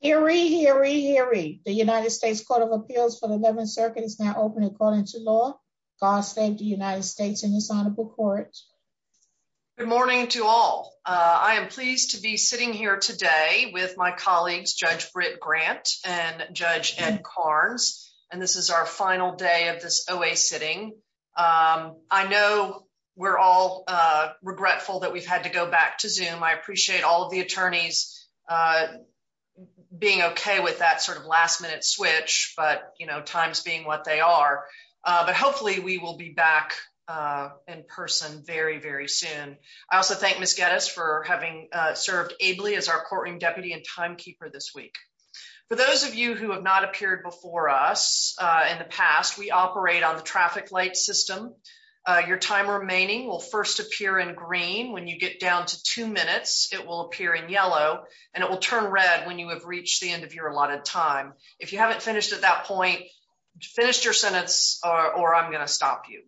Hear ye, hear ye, hear ye. The United States Court of Appeals for the 11th Circuit is now open according to law. God save the United States in this honorable court. Good morning to all. I am pleased to be sitting here today with my colleagues Judge Britt Grant and Judge Ed Karnes, and this is our final day of this OA sitting. I know we're all regretful that we've had to go back to Zoom. I appreciate all of the attorneys being okay with that sort of last minute switch, but times being what they are. But hopefully we will be back in person very, very soon. I also thank Ms. Geddes for having served ably as our courtroom deputy and timekeeper this week. For those of you who have not appeared before us in the past, we operate on the traffic system. Your time remaining will first appear in green. When you get down to two minutes, it will appear in yellow, and it will turn red when you have reached the end of your allotted time. If you haven't finished at that point, finish your sentence or I'm going to stop you.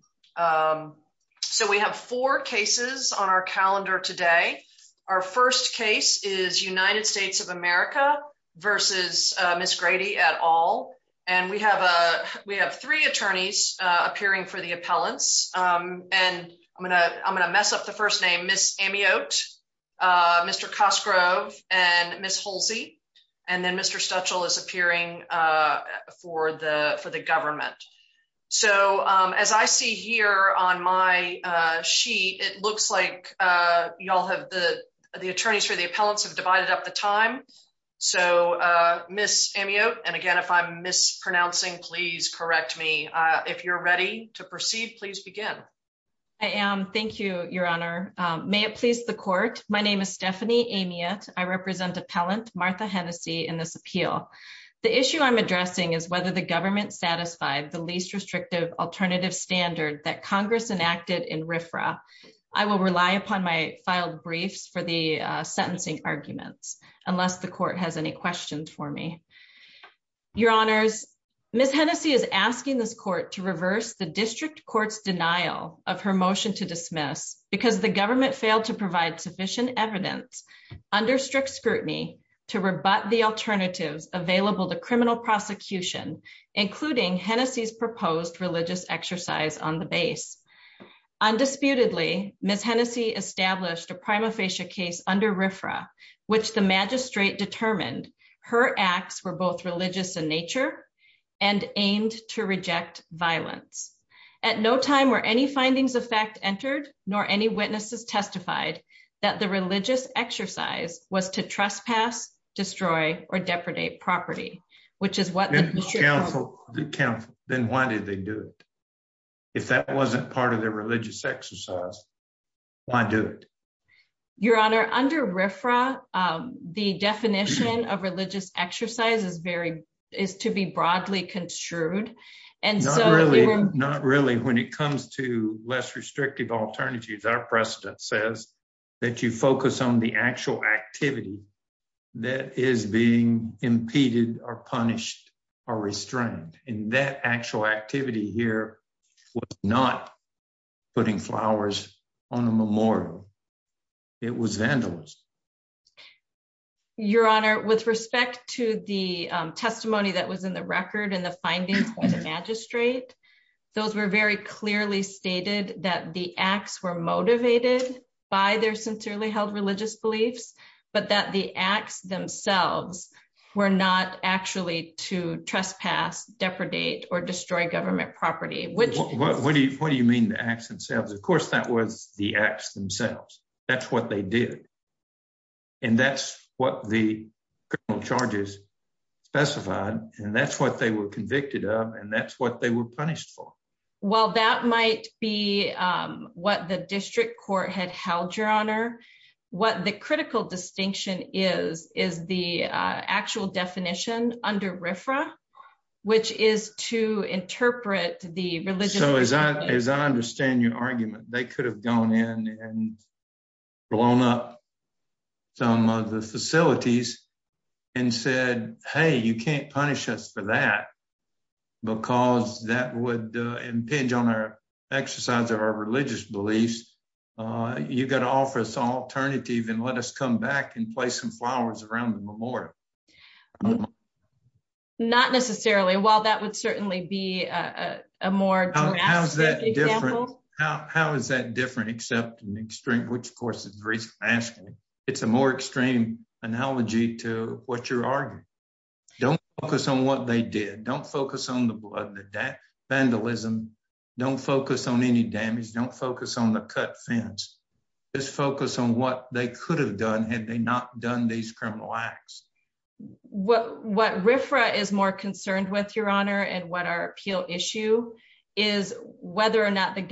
So we have four cases on our calendar today. Our first case is United States of America versus Ms. Grady et al. And we have three attorneys appearing for the appellants. And I'm going to mess up the first name, Ms. Amiot, Mr. Cosgrove, and Ms. Holsey. And then Mr. Stutchell is appearing for the government. So as I see here on my sheet, it looks like the attorneys for the appellants have divided up the time. So Ms. Amiot, and again, if I'm mispronouncing, please correct me. If you're ready to proceed, please begin. I am. Thank you, Your Honor. May it please the court. My name is Stephanie Amiot. I represent appellant Martha Hennessy in this appeal. The issue I'm addressing is whether the government satisfied the least restrictive alternative standard that Congress enacted in RFRA. I will rely upon my filed briefs for the sentencing arguments unless the court has any questions for me. Your Honors, Ms. Hennessy is asking this court to reverse the district court's denial of her motion to dismiss because the government failed to provide sufficient evidence under strict scrutiny to rebut the alternatives available to criminal prosecution, including Hennessy's proposed religious exercise on the base. Undisputedly, Ms. Hennessy established a prima facie case under RFRA, which the magistrate determined her acts were both religious in nature and aimed to reject violence. At no time were any findings of fact entered, nor any witnesses testified that the religious exercise was to trespass, destroy, or depredate property, which is what the district counsel then why did they do it? If that wasn't part of their religious exercise, why do it? Your Honor, under RFRA, the definition of religious exercise is to be broadly construed. Not really. When it comes to less restrictive alternatives, our precedent says that you focus on the actual activity that is being impeded or punished or restrained, and that actual activity here was not putting flowers on a memorial. It was vandalism. Your Honor, with respect to the testimony that was in the record and the findings by the magistrate, those were very clearly stated that the acts were motivated by their sincerely held religious beliefs, but that the acts themselves were not actually to trespass, depredate, or destroy government property. What do you mean the acts themselves? Of course, that was the acts themselves. That's what they did, and that's what the criminal charges specified, and that's what they were punished for. Well, that might be what the district court had held, Your Honor. What the critical distinction is, is the actual definition under RFRA, which is to interpret the religion. So, as I understand your argument, they could have gone in and blown up some of the facilities and said, hey, you can't punish us for that because that would impinge on our exercise of our religious beliefs. You've got to offer us an alternative and let us come back and place some flowers around the memorial. Not necessarily. While that would certainly be a more drastic example. How is that different except in the extreme, which of course is very fascinating. It's a more extreme analogy to what you're arguing. Don't focus on what they did. Don't focus on the blood and the vandalism. Don't focus on any damage. Don't focus on the cut fence. Just focus on what they could have done had they not done these criminal acts. What RFRA is more concerned with, Your Honor, and what our appeal issue is, whether or not the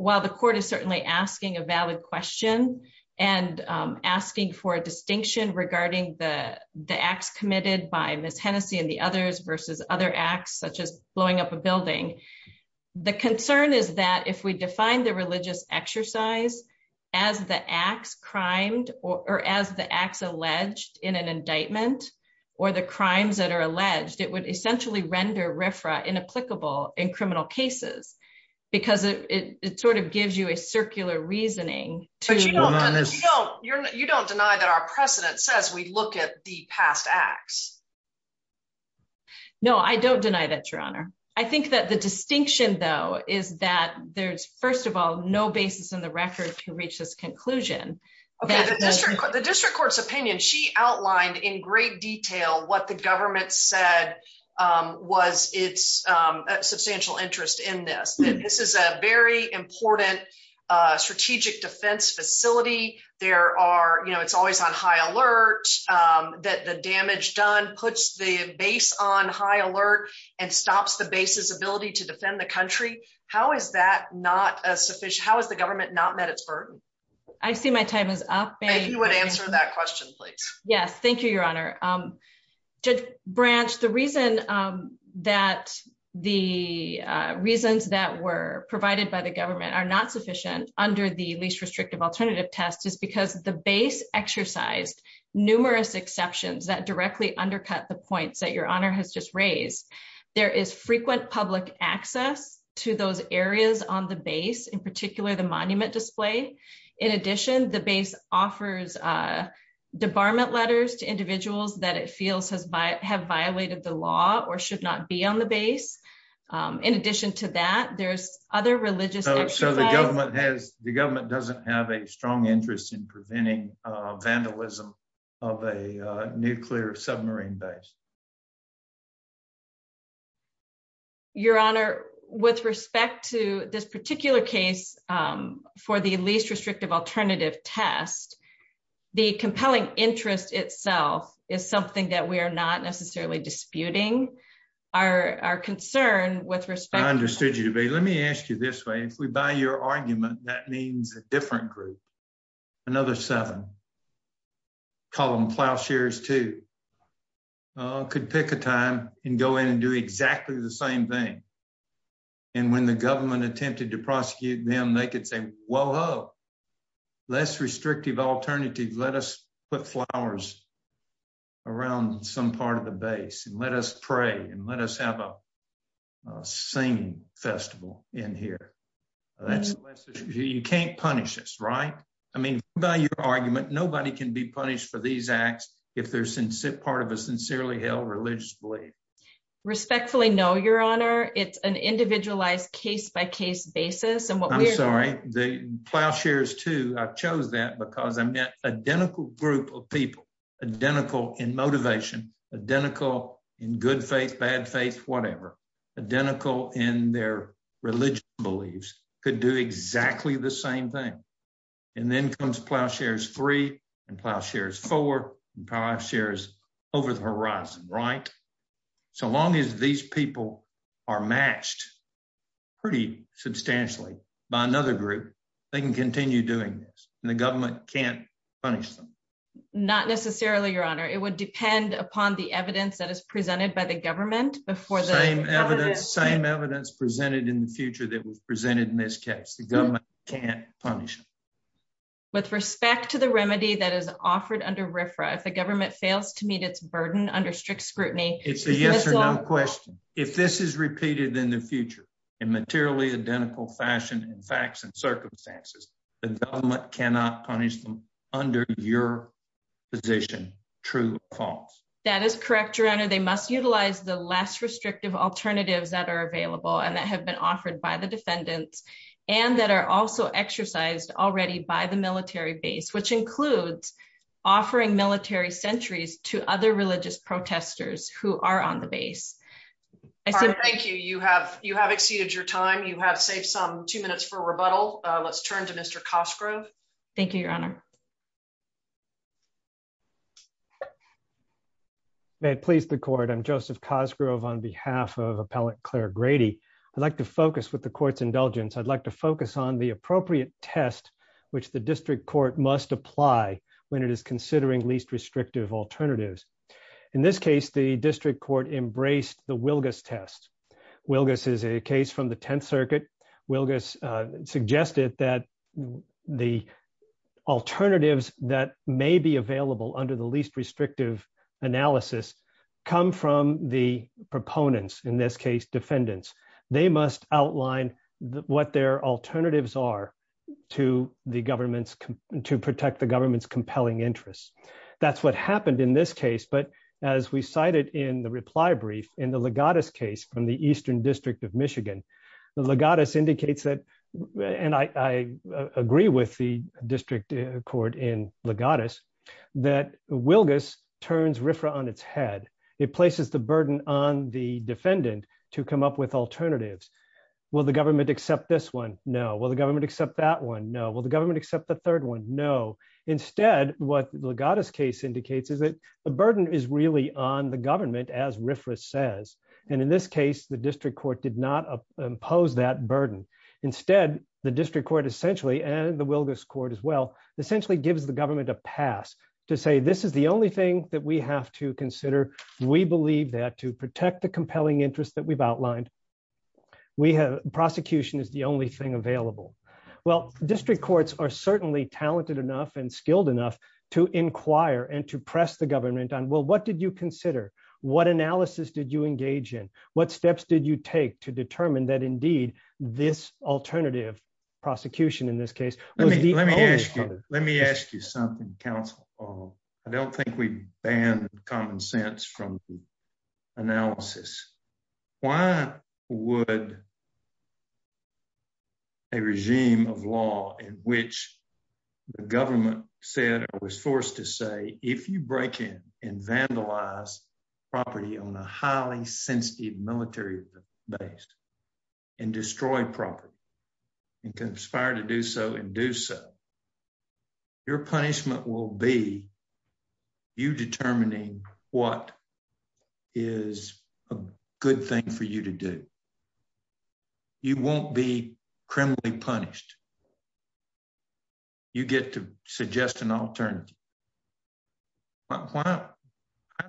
while the court is certainly asking a valid question and asking for a distinction regarding the acts committed by Ms. Hennessey and the others versus other acts such as blowing up a building. The concern is that if we define the religious exercise as the acts crimed or as the acts alleged in an indictment or the crimes that are alleged, it would essentially render RFRA inapplicable in criminal cases because it gives you a circular reasoning. You don't deny that our precedent says we look at the past acts. No, I don't deny that, Your Honor. I think that the distinction, though, is that there's, first of all, no basis in the record to reach this conclusion. Okay. The district court's opinion, she outlined in great detail what the government said was its substantial interest in this. This is a very important strategic defense facility. It's always on high alert that the damage done puts the base on high alert and stops the base's ability to defend the country. How is that not sufficient? How has the government not met its I see my time is up. If you would answer that question, please. Yes. Thank you, Your Honor. Judge Branch, the reason that the reasons that were provided by the government are not sufficient under the least restrictive alternative test is because the base exercised numerous exceptions that directly undercut the points that Your Honor has just raised. There is frequent public access to those areas on the base, in particular the monument display. In addition, the base offers debarment letters to individuals that it feels have violated the law or should not be on the base. In addition to that, there's other religious So the government doesn't have a strong interest in preventing vandalism of a nuclear submarine base. Your Honor, with respect to this particular case for the least restrictive alternative test, the compelling interest itself is something that we are not necessarily disputing. Our concern with respect understood you, but let me ask you this way. If we buy your argument, that means a different group, another seven, call them plowshares, too, could pick a time and go in and do exactly the same thing. And when the government attempted to prosecute them, they could say, well, oh, less restrictive alternative. Let us put flowers around some part of the base and let us pray and let us have a singing festival in here. You can't punish this, right? I mean, by your argument, nobody can be punished for these acts if they're part of a sincerely held religious belief. Respectfully, no, Your Honor. It's an individualized case-by-case basis. I'm sorry, the plowshares, too. I chose that because I'm an identical group of people, identical in motivation, identical in good faith, bad faith, whatever, identical in their religion beliefs, could do exactly the same thing. And then comes plowshares three and plowshares four and plowshares over the horizon, right? So long as these people are matched pretty substantially by another group, they can continue doing this and the government can't punish them. Not necessarily, Your Honor. It would depend upon the evidence that is presented by the government before the- Same evidence presented in the future that was presented in this case. The government can't punish them. With respect to the remedy that is offered under RFRA, if the government fails to meet its burden under strict scrutiny- It's a yes or no question. If this is repeated in the future in materially identical fashion and facts and circumstances, the government cannot punish them under your position. True or false? That is correct, Your Honor. They must utilize the less restrictive alternatives that are available and that have been offered by the defendants and that are also exercised already by the military base, which includes offering military sentries to other religious protesters who are on the base. Thank you. You have exceeded your time. You have saved some two minutes for rebuttal. Let's turn to Mr. Cosgrove. Thank you, Your Honor. May it please the court. I'm Joseph Cosgrove on behalf of appellate Claire Grady. I'd like to focus with the court's indulgence. I'd like to focus on the appropriate test which the district court must apply when it is considering least restrictive alternatives. In this case, the the alternatives that may be available under the least restrictive analysis come from the proponents, in this case, defendants. They must outline what their alternatives are to protect the government's compelling interests. That's what happened in this case, but as we cited in the reply brief in the Legatus case from the Eastern District of Michigan, the Legatus indicates that, and I agree with the district court in Legatus, that Wilgus turns RFRA on its head. It places the burden on the defendant to come up with alternatives. Will the government accept this one? No. Will the government accept that one? No. Will the government accept the third one? No. Instead, what the Legatus case indicates is that the burden is on the government, as RFRA says. In this case, the district court did not impose that burden. Instead, the district court essentially, and the Wilgus court as well, essentially gives the government a pass to say, this is the only thing that we have to consider. We believe that to protect the compelling interests that we've outlined, prosecution is the only thing available. Well, district courts are certainly talented enough and skilled enough to inquire and to consider. What analysis did you engage in? What steps did you take to determine that indeed, this alternative prosecution in this case- Let me ask you something, counsel. I don't think we've banned common sense from analysis. Why would a regime of law in which the government said or was forced to say, if you break in and vandalize property on a highly sensitive military base and destroy property and conspire to do so and do so, your punishment will be you determining what is a good thing for you to do. You won't be criminally punished. You get to suggest an alternative. How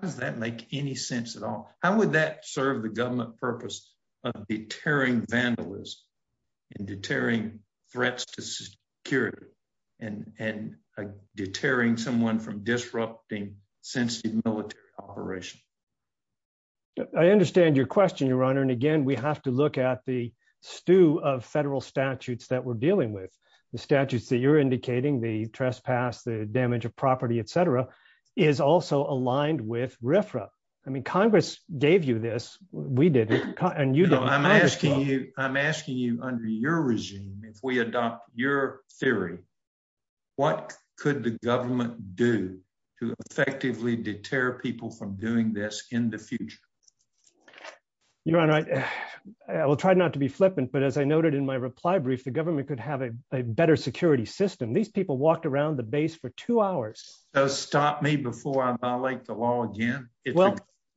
does that make any sense at all? How would that serve the government purpose of deterring vandalism and deterring threats to security and deterring someone from disrupting sensitive military operation? I understand your question, Your Honor. Again, we have to look at the statutes that you're indicating, the trespass, the damage of property, et cetera, is also aligned with RFRA. Congress gave you this. We did it. I'm asking you under your regime, if we adopt your theory, what could the government do to effectively deter people from doing this in the future? Your Honor, I will try not to be flippant, but as I noted in my reply brief, the government could have a better security system. These people walked around the base for two hours. Stop me before I violate the law again?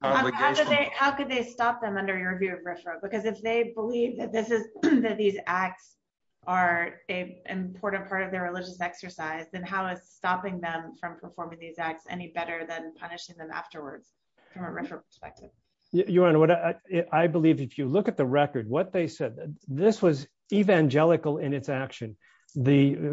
How could they stop them under your view of RFRA? Because if they believe that these acts are an important part of their religious exercise, then how is stopping them from performing these acts any better than punishing them afterwards from a RFRA perspective? Your Honor, I believe if you look at the record, what they said, this was evangelical in its action.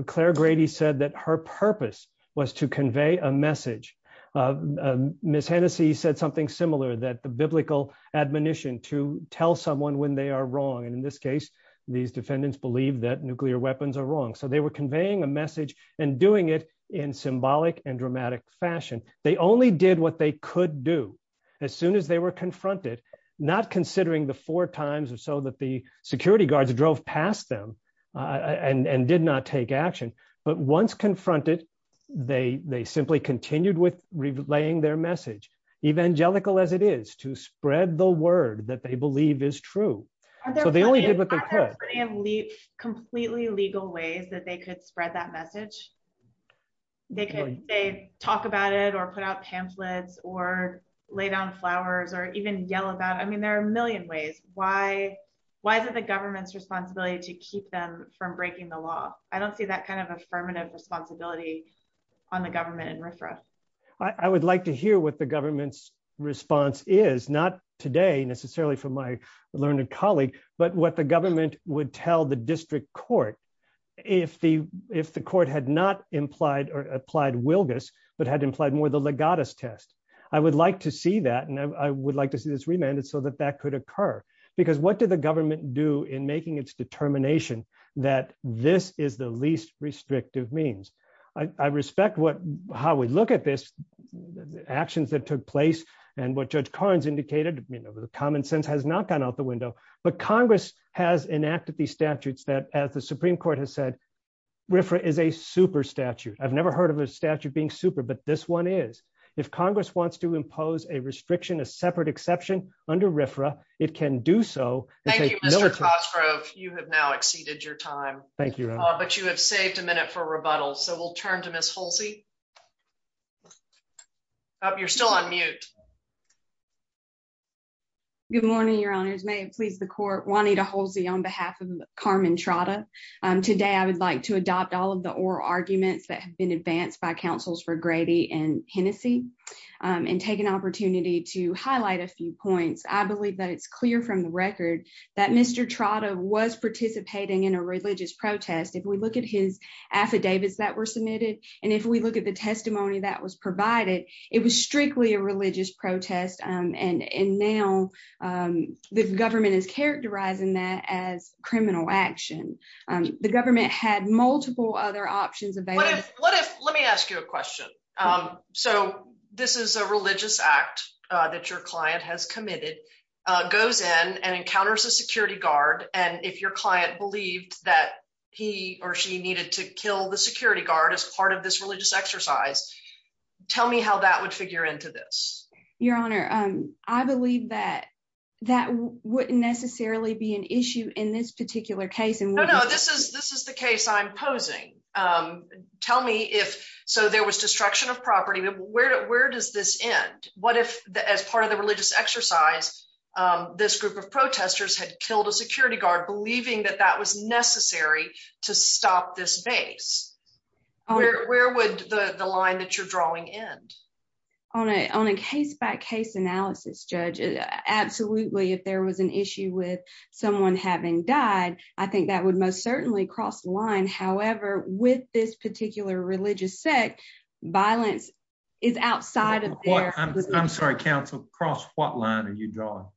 Claire Grady said that her purpose was to convey a message. Ms. Hennessey said something similar, that the biblical admonition to tell someone when they are wrong. In this case, these defendants believe that nuclear weapons are wrong. They were conveying a message and doing it in symbolic and dramatic fashion. They only did what they could do as soon as they were confronted, not considering the four times or so that the security guards drove past them and did not take action. But once confronted, they simply continued with relaying their message, evangelical as it is, to spread the word that they believe is true. So they only did what they could. Are there completely legal ways that they could spread that message? They could talk about it or put out pamphlets or lay down flowers or even yell about it. I mean, there are a million ways. Why is it the government's responsibility to keep them from breaking the law? I don't see that kind of affirmative responsibility on the government and RFRA. I would like to hear what the government's response is, not today necessarily from my learned colleague, but what the government would tell the district court if the court had not implied or applied Wilgus, but had implied more the Legatus test. I would like to see that and I would like to see this remanded so that that could occur. Because what did the government do in making its determination that this is the least restrictive means? I respect how we look at this, actions that took place and what Judge these statutes that as the Supreme Court has said, RFRA is a super statute. I've never heard of a statute being super, but this one is. If Congress wants to impose a restriction, a separate exception under RFRA, it can do so. Thank you, Mr. Cosgrove. You have now exceeded your time. Thank you. But you have saved a minute for rebuttal. So we'll turn to Ms. Holsey. You're still on mute. Good morning, Your Honors. May it please the court, Juanita Holsey on behalf of Carmen Trotta. Today, I would like to adopt all of the oral arguments that have been advanced by councils for Grady and Hennessey and take an opportunity to highlight a few points. I believe that it's clear from the record that Mr. Trotta was participating in a religious protest. If we look at his affidavits that were submitted and if we look at the testimony that was provided, it was strictly a religious protest and now the government is characterizing that as criminal action. The government had multiple other options available. What if, let me ask you a question. So this is a religious act that your client has committed, goes in and encounters a security guard and if your client believed that he or she needed to this? Your Honor, I believe that that wouldn't necessarily be an issue in this particular case. This is the case I'm posing. Tell me if, so there was destruction of property, where does this end? What if as part of the religious exercise, this group of protesters had killed a security guard believing that that was necessary to stop this base? Where would the line that you're drawing end? On a case-by-case analysis, Judge. Absolutely, if there was an issue with someone having died, I think that would most certainly cross the line. However, with this particular religious sect, violence is outside of there. I'm sorry, counsel, cross what line are you drawing?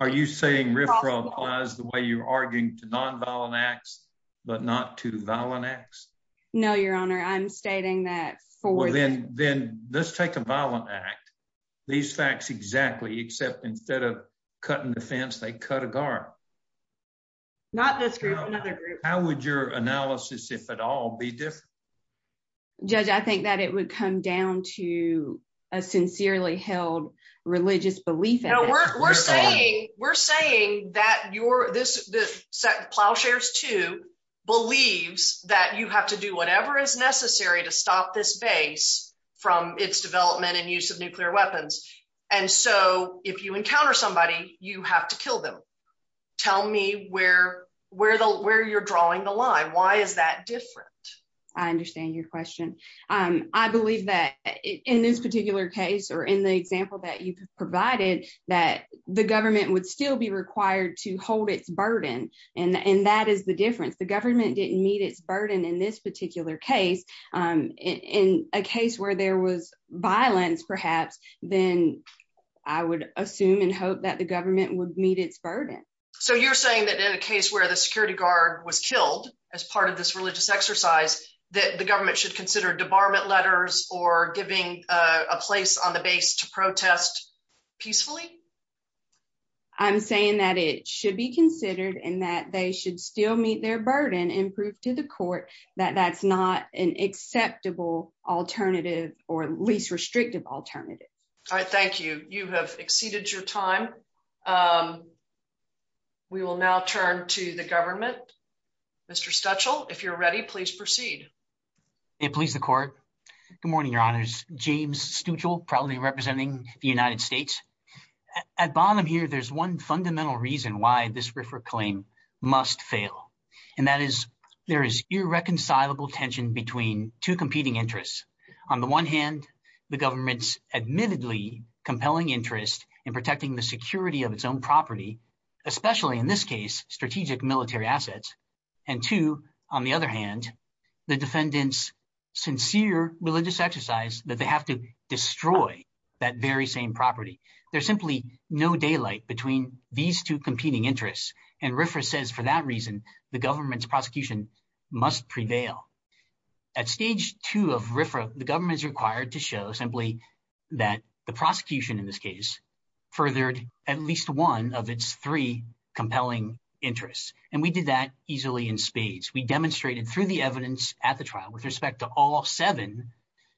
Are you saying RFRA applies the way you're arguing to non-violent acts but not to violent acts? No, Your Honor, I'm stating that for them. Then let's take a violent act. These facts exactly except instead of cutting the fence, they cut a guard. Not this group, another group. How would your analysis, if at all, be different? Judge, I think that it would come down to a sincerely held religious belief. We're saying that Plowshares 2 believes that you have to do whatever is necessary to stop this base from its development and use of nuclear weapons. If you encounter somebody, you have to kill them. Tell me where you're drawing the line. Why is that different? I understand your question. I believe that in this particular case or in the example that you provided, that the government would still be required to hold its burden. That is the difference. The government didn't meet its burden in this particular case. In a case where there was violence, perhaps, then I would assume and hope that the government would meet its burden. You're saying that in a case where the security guard was killed as part of this religious exercise, that the government should consider debarment letters or giving a place on the base to protest peacefully? I'm saying that it should be considered and that they should still meet their burden and prove to the court that that's not an acceptable alternative or least restrictive alternative. All right. Thank you. You have exceeded your time. We will now turn to the government. Mr. Stuchel, if you're ready, please proceed. It please the court. Good morning, James Stuchel, proudly representing the United States. At bottom here, there's one fundamental reason why this RIFRA claim must fail. That is, there is irreconcilable tension between two competing interests. On the one hand, the government's admittedly compelling interest in protecting the security of its own property, especially in this case, strategic military assets. And two, on the other hand, the defendants' sincere religious exercise that they have to destroy that very same property. There's simply no daylight between these two competing interests. And RIFRA says for that reason, the government's prosecution must prevail. At stage two of RIFRA, the government is required to show simply that the prosecution in this case furthered at least one of its three compelling interests. And we did that easily in spades. We demonstrated through the evidence at the trial with respect to all seven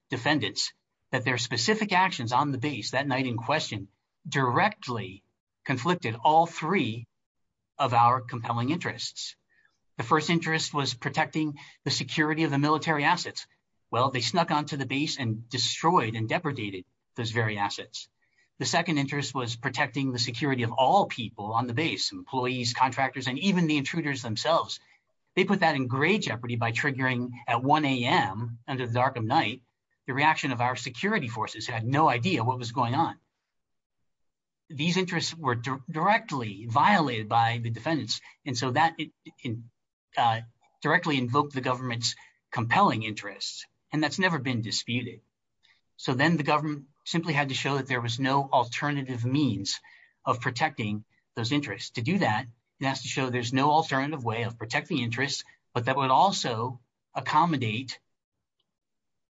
defendants that their specific actions on the base that night in question directly conflicted all three of our compelling interests. The first interest was protecting the security of the military assets. Well, they snuck onto the base and destroyed and depredated those very assets. The second interest was protecting the security of all people on the base, employees, contractors, and even the intruders themselves. They put that in great jeopardy by triggering at 1 a.m. under the dark of night, the reaction of our security forces had no idea what was going on. These interests were directly violated by the defendants. And so that directly invoked the government's compelling interests. And that's never been disputed. So then the government simply had to show that there was no alternative means of protecting those interests. To do that, it has to show there's no alternative way of protecting interests, but that would also accommodate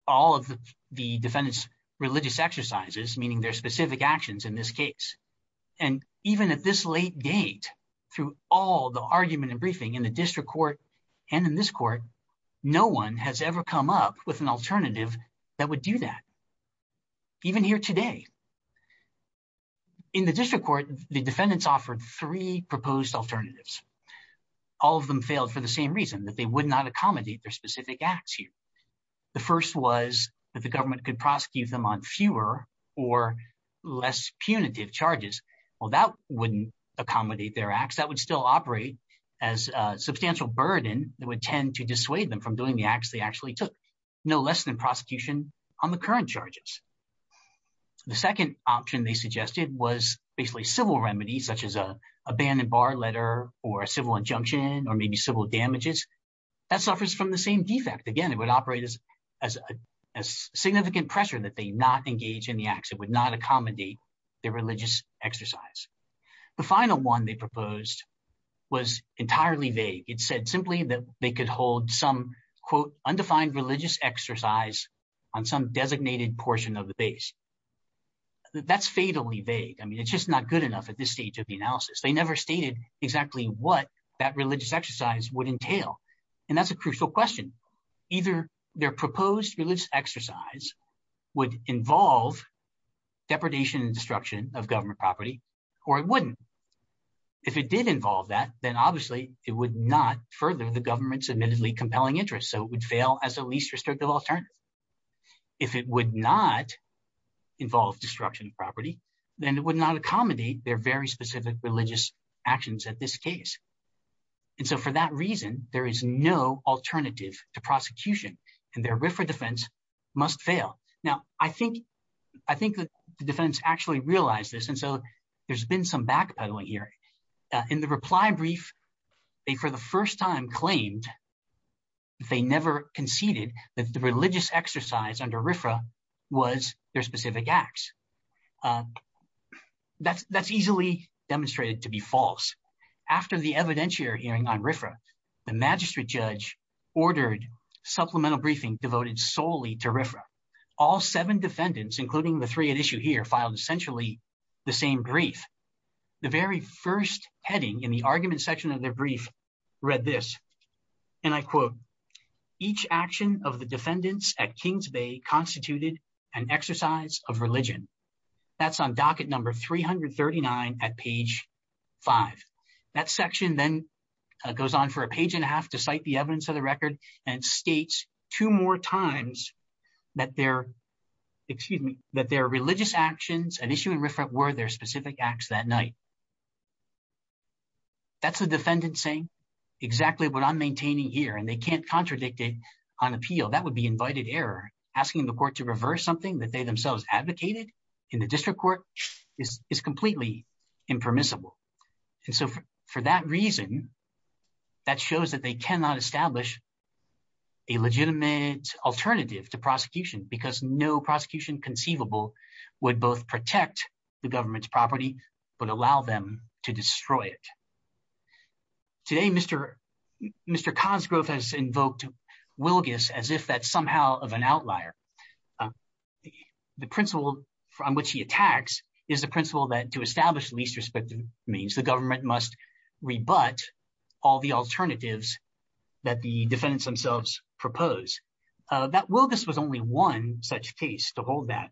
all of the defendant's religious exercises, meaning their specific actions in this case. And even at this late date, through all the argument and briefing in the district court and in this court, no one has ever come up with an alternative that would do that. Even here today, in the district court, the defendants offered three proposed alternatives. All of them failed for the same reason that they would not accommodate their specific acts here. The first was that the government could prosecute them on fewer or less punitive charges. Well, that wouldn't accommodate their acts, that would still operate as a substantial burden that would tend to dissuade them from doing the acts they actually took. No less than prosecution on the current charges. The second option they suggested was basically civil remedies such as an abandoned bar letter or a civil injunction or maybe civil damages. That suffers from the same defect. Again, it would operate as significant pressure that they not engage in the acts. It would not accommodate their religious exercise. The final one they exercise on some designated portion of the base. That's fatally vague. I mean, it's just not good enough at this stage of the analysis. They never stated exactly what that religious exercise would entail. And that's a crucial question. Either their proposed religious exercise would involve depredation and destruction of government property, or it wouldn't. If it did involve that, then obviously it would not further the government's admittedly compelling interest. So it would fail as a least restrictive alternative. If it would not involve destruction of property, then it would not accommodate their very specific religious actions at this case. And so for that reason, there is no alternative to prosecution and their RFRA defense must fail. Now, I think the defense actually realized this. And so there's been some backpedaling here. In the reply brief, they for the first time claimed that they never conceded that the religious exercise under RFRA was their specific acts. That's easily demonstrated to be false. After the evidentiary hearing on RFRA, the magistrate judge ordered supplemental briefing devoted solely to RFRA. All seven defendants, including the three at issue here, filed essentially the same brief. The very first heading in the argument section of their brief read this. And I quote, each action of the defendants at Kings Bay constituted an exercise of religion. That's on docket number 339 at page five. That section then goes on for a page and a half to cite the evidence of the record and states two more times that their, excuse me, that their religious actions at issue in RFRA were their specific acts that night. That's the defendant saying exactly what I'm maintaining here and they can't contradict it on appeal. That would be invited error. Asking the court to reverse something that they themselves advocated in the district court is completely impermissible. And so for that reason, that shows that they cannot establish a legitimate alternative to prosecution because no prosecution conceivable would both protect the government's property, but allow them to destroy it. Today, Mr. Cahn's growth has invoked Wilgus as if that's somehow of an outlier. The principle on which he attacks is the principle that to establish least respective means the government must rebut all the alternatives that the defendants themselves propose. That Wilgus was only one such case to hold that.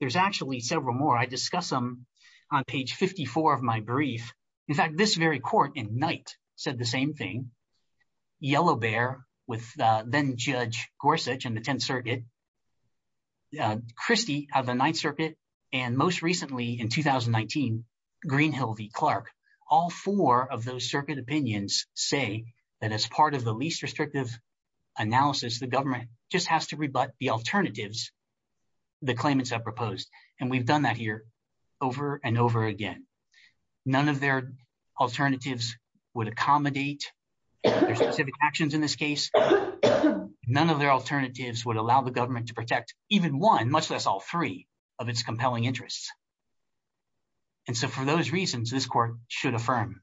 There's actually several more. I discuss them on page 54 of my brief. In fact, this very court in Knight said the same thing. Yellow Bear with then Judge Gorsuch in the 10th Circuit, Christy of the 9th Circuit, and most recently in 2019, Greenhill v. Clark. All four of those circuit opinions say that as part of the least restrictive analysis, the government just has to rebut the alternatives, the claimants have proposed. And we've done that here over and over again. None of their alternatives would accommodate their specific actions in this case. None of their alternatives would allow the government to protect even one, much less all three of its compelling interests. And so for those reasons, this court should affirm.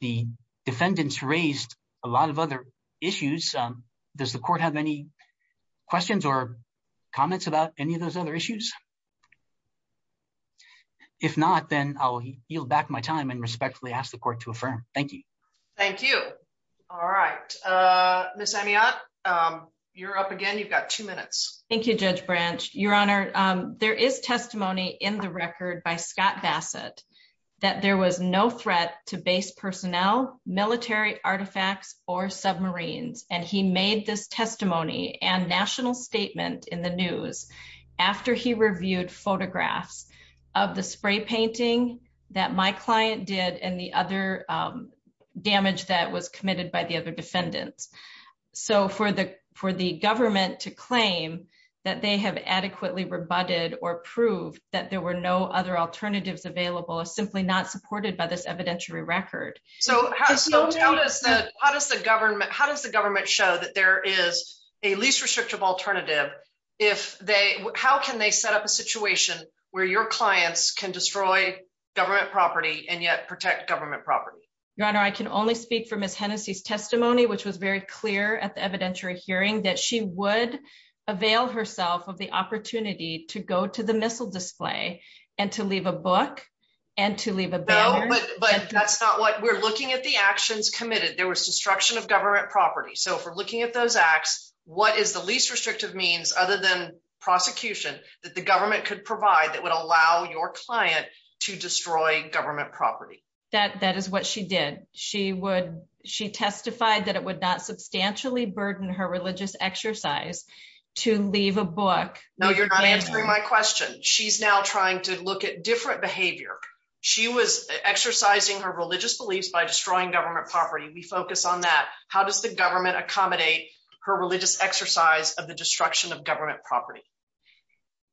The defendants raised a lot of other issues. Does the court have any questions or comments about any of those other issues? If not, then I'll yield back my time and respectfully ask the court to affirm. Thank you. Thank you. All right. Ms. Amiotte, you're up again. You've got two minutes. Thank you, Judge Branch. Your Honor, there is testimony in the record by Scott Bassett that there was no threat to base personnel, military artifacts, or submarines. And he made this testimony and national statement in the news after he reviewed photographs of the spray painting that my client did and the other damage that was committed by the other defendants. So for the government to claim that they have adequately rebutted or proved that there were other alternatives available is simply not supported by this evidentiary record. How does the government show that there is a least restrictive alternative? How can they set up a situation where your clients can destroy government property and yet protect government property? Your Honor, I can only speak for Ms. Hennessey's testimony, which was very clear at the evidentiary hearing that she would avail herself of the opportunity to go to the missile display and to leave a book and to leave a banner. But that's not what we're looking at. The actions committed, there was destruction of government property. So if we're looking at those acts, what is the least restrictive means other than prosecution that the government could provide that would allow your client to destroy government property? That is what she did. She testified that it would not substantially burden her religious exercise to leave a book. No, you're answering my question. She's now trying to look at different behavior. She was exercising her religious beliefs by destroying government property. We focus on that. How does the government accommodate her religious exercise of the destruction of government property?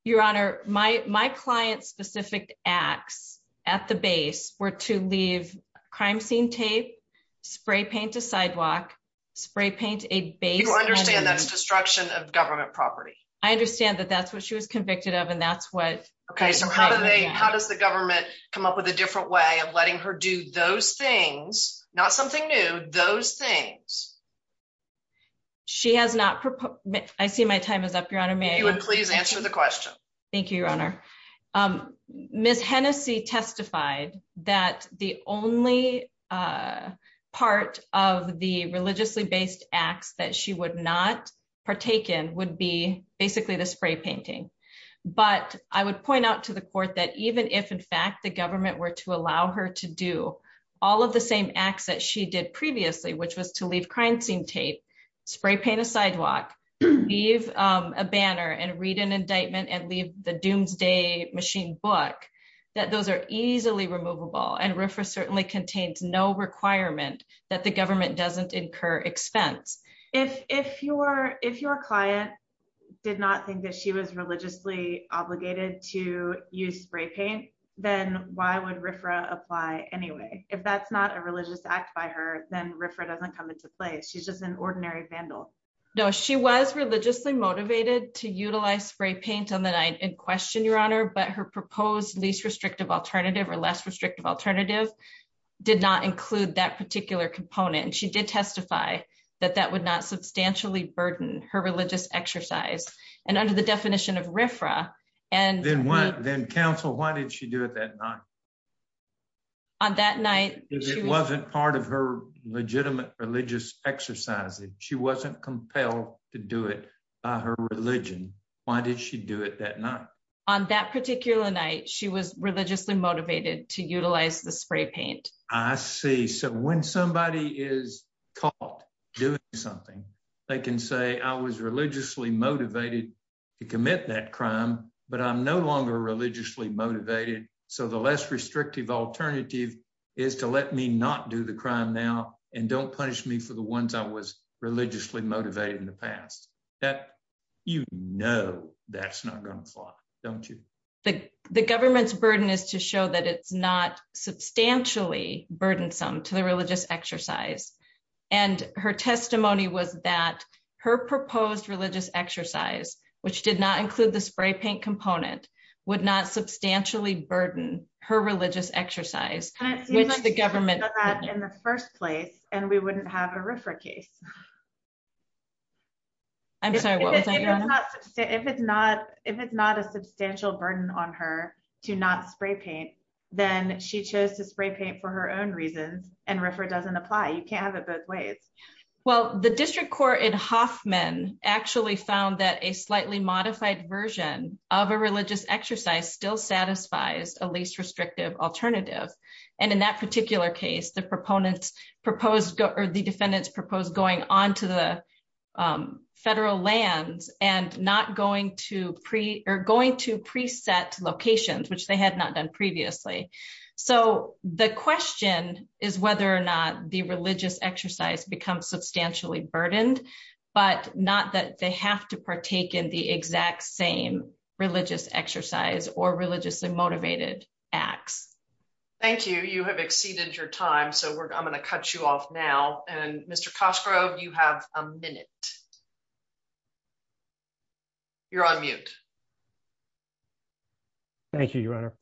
Your Honor, my client's specific acts at the base were to leave crime scene tape, spray paint a sidewalk, spray paint a base. You understand that it's destruction of government property. I understand that that's what she was convicted of and that's what. Okay, so how do they, how does the government come up with a different way of letting her do those things, not something new, those things? She has not, I see my time is up, Your Honor. May I please answer the question? Thank you, Your Honor. Ms. Hennessy testified that the only part of the religiously based acts that she would not partake in would be basically the spray painting. But I would point out to the court that even if in fact the government were to allow her to do all of the same acts that she did previously, which was to leave crime scene tape, spray paint a sidewalk, leave a banner and read an indictment and leave the doomsday machine book, that those are easily removable. And RFRA certainly contains no requirement that the government doesn't incur expense. If your client did not think that she was religiously obligated to use spray paint, then why would RFRA apply anyway? If that's not a religious act by her, then RFRA doesn't come into play. She's just an ordinary vandal. No, she was religiously motivated to utilize spray paint on the night in question, Your Honor, but her proposed least restrictive alternative or less restrictive alternative did not include that particular component. And she did testify that that would not substantially burden her religious exercise. And under the definition of RFRA and... Then counsel, why did she do it that night? On that night... It wasn't part of her legitimate religious exercise. She wasn't compelled to do it by her religion. Why did she do it that night? On that particular night, she was religiously motivated to utilize the spray paint. I see. So when somebody is caught doing something, they can say, I was religiously motivated to commit that crime, but I'm no longer religiously motivated. So the less restrictive alternative is to let me not do the crime now and don't punish me for the ones I was doing. That's not going to fly, don't you? The government's burden is to show that it's not substantially burdensome to the religious exercise. And her testimony was that her proposed religious exercise, which did not include the spray paint component, would not substantially burden her religious exercise, which the government... And it seems like she would have done that in the first place and we wouldn't have a RFRA case. I'm sorry, what was I going to say? If it's not a substantial burden on her to not spray paint, then she chose to spray paint for her own reasons and RFRA doesn't apply. You can't have it both ways. Well, the district court in Hoffman actually found that a slightly modified version of a religious exercise still satisfies a least restrictive alternative. And in that particular case, the city defendants proposed going onto the federal lands and not going to pre-set locations, which they had not done previously. So the question is whether or not the religious exercise becomes substantially burdened, but not that they have to partake in the exact same religious exercise or religiously motivated acts. Thank you. You have exceeded your time, so I'm going to cut you off now and Mr. Cosgrove, you have a minute. You're on mute. Thank you, Your Honor.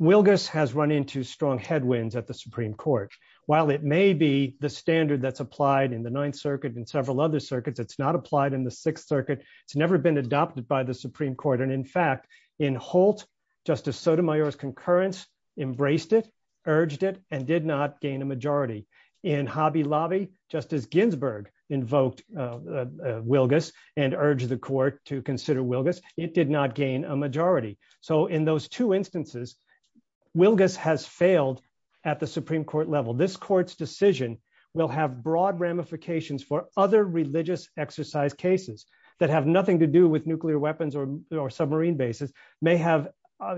Wilgus has run into strong headwinds at the Supreme Court. While it may be the standard that's applied in the Ninth Circuit and several other circuits, it's not applied in the Sixth Circuit. It's never been adopted by the Supreme Court. And in fact, in Holt, Justice Sotomayor's concurrence embraced it, urged it and did not gain a majority. In Hobby Lobby, Justice Ginsburg invoked Wilgus and urged the court to consider Wilgus. It did not gain a majority. So in those two instances, Wilgus has failed at the Supreme Court level. This court's decision will have broad ramifications for other religious exercise cases that have nothing to do with nuclear weapons or submarine bases may have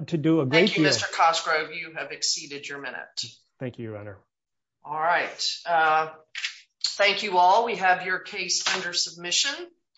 to do- Thank you, Mr. Cosgrove, you have exceeded your minute. Thank you, Your Honor. All right. Thank you all. We have your case under submission.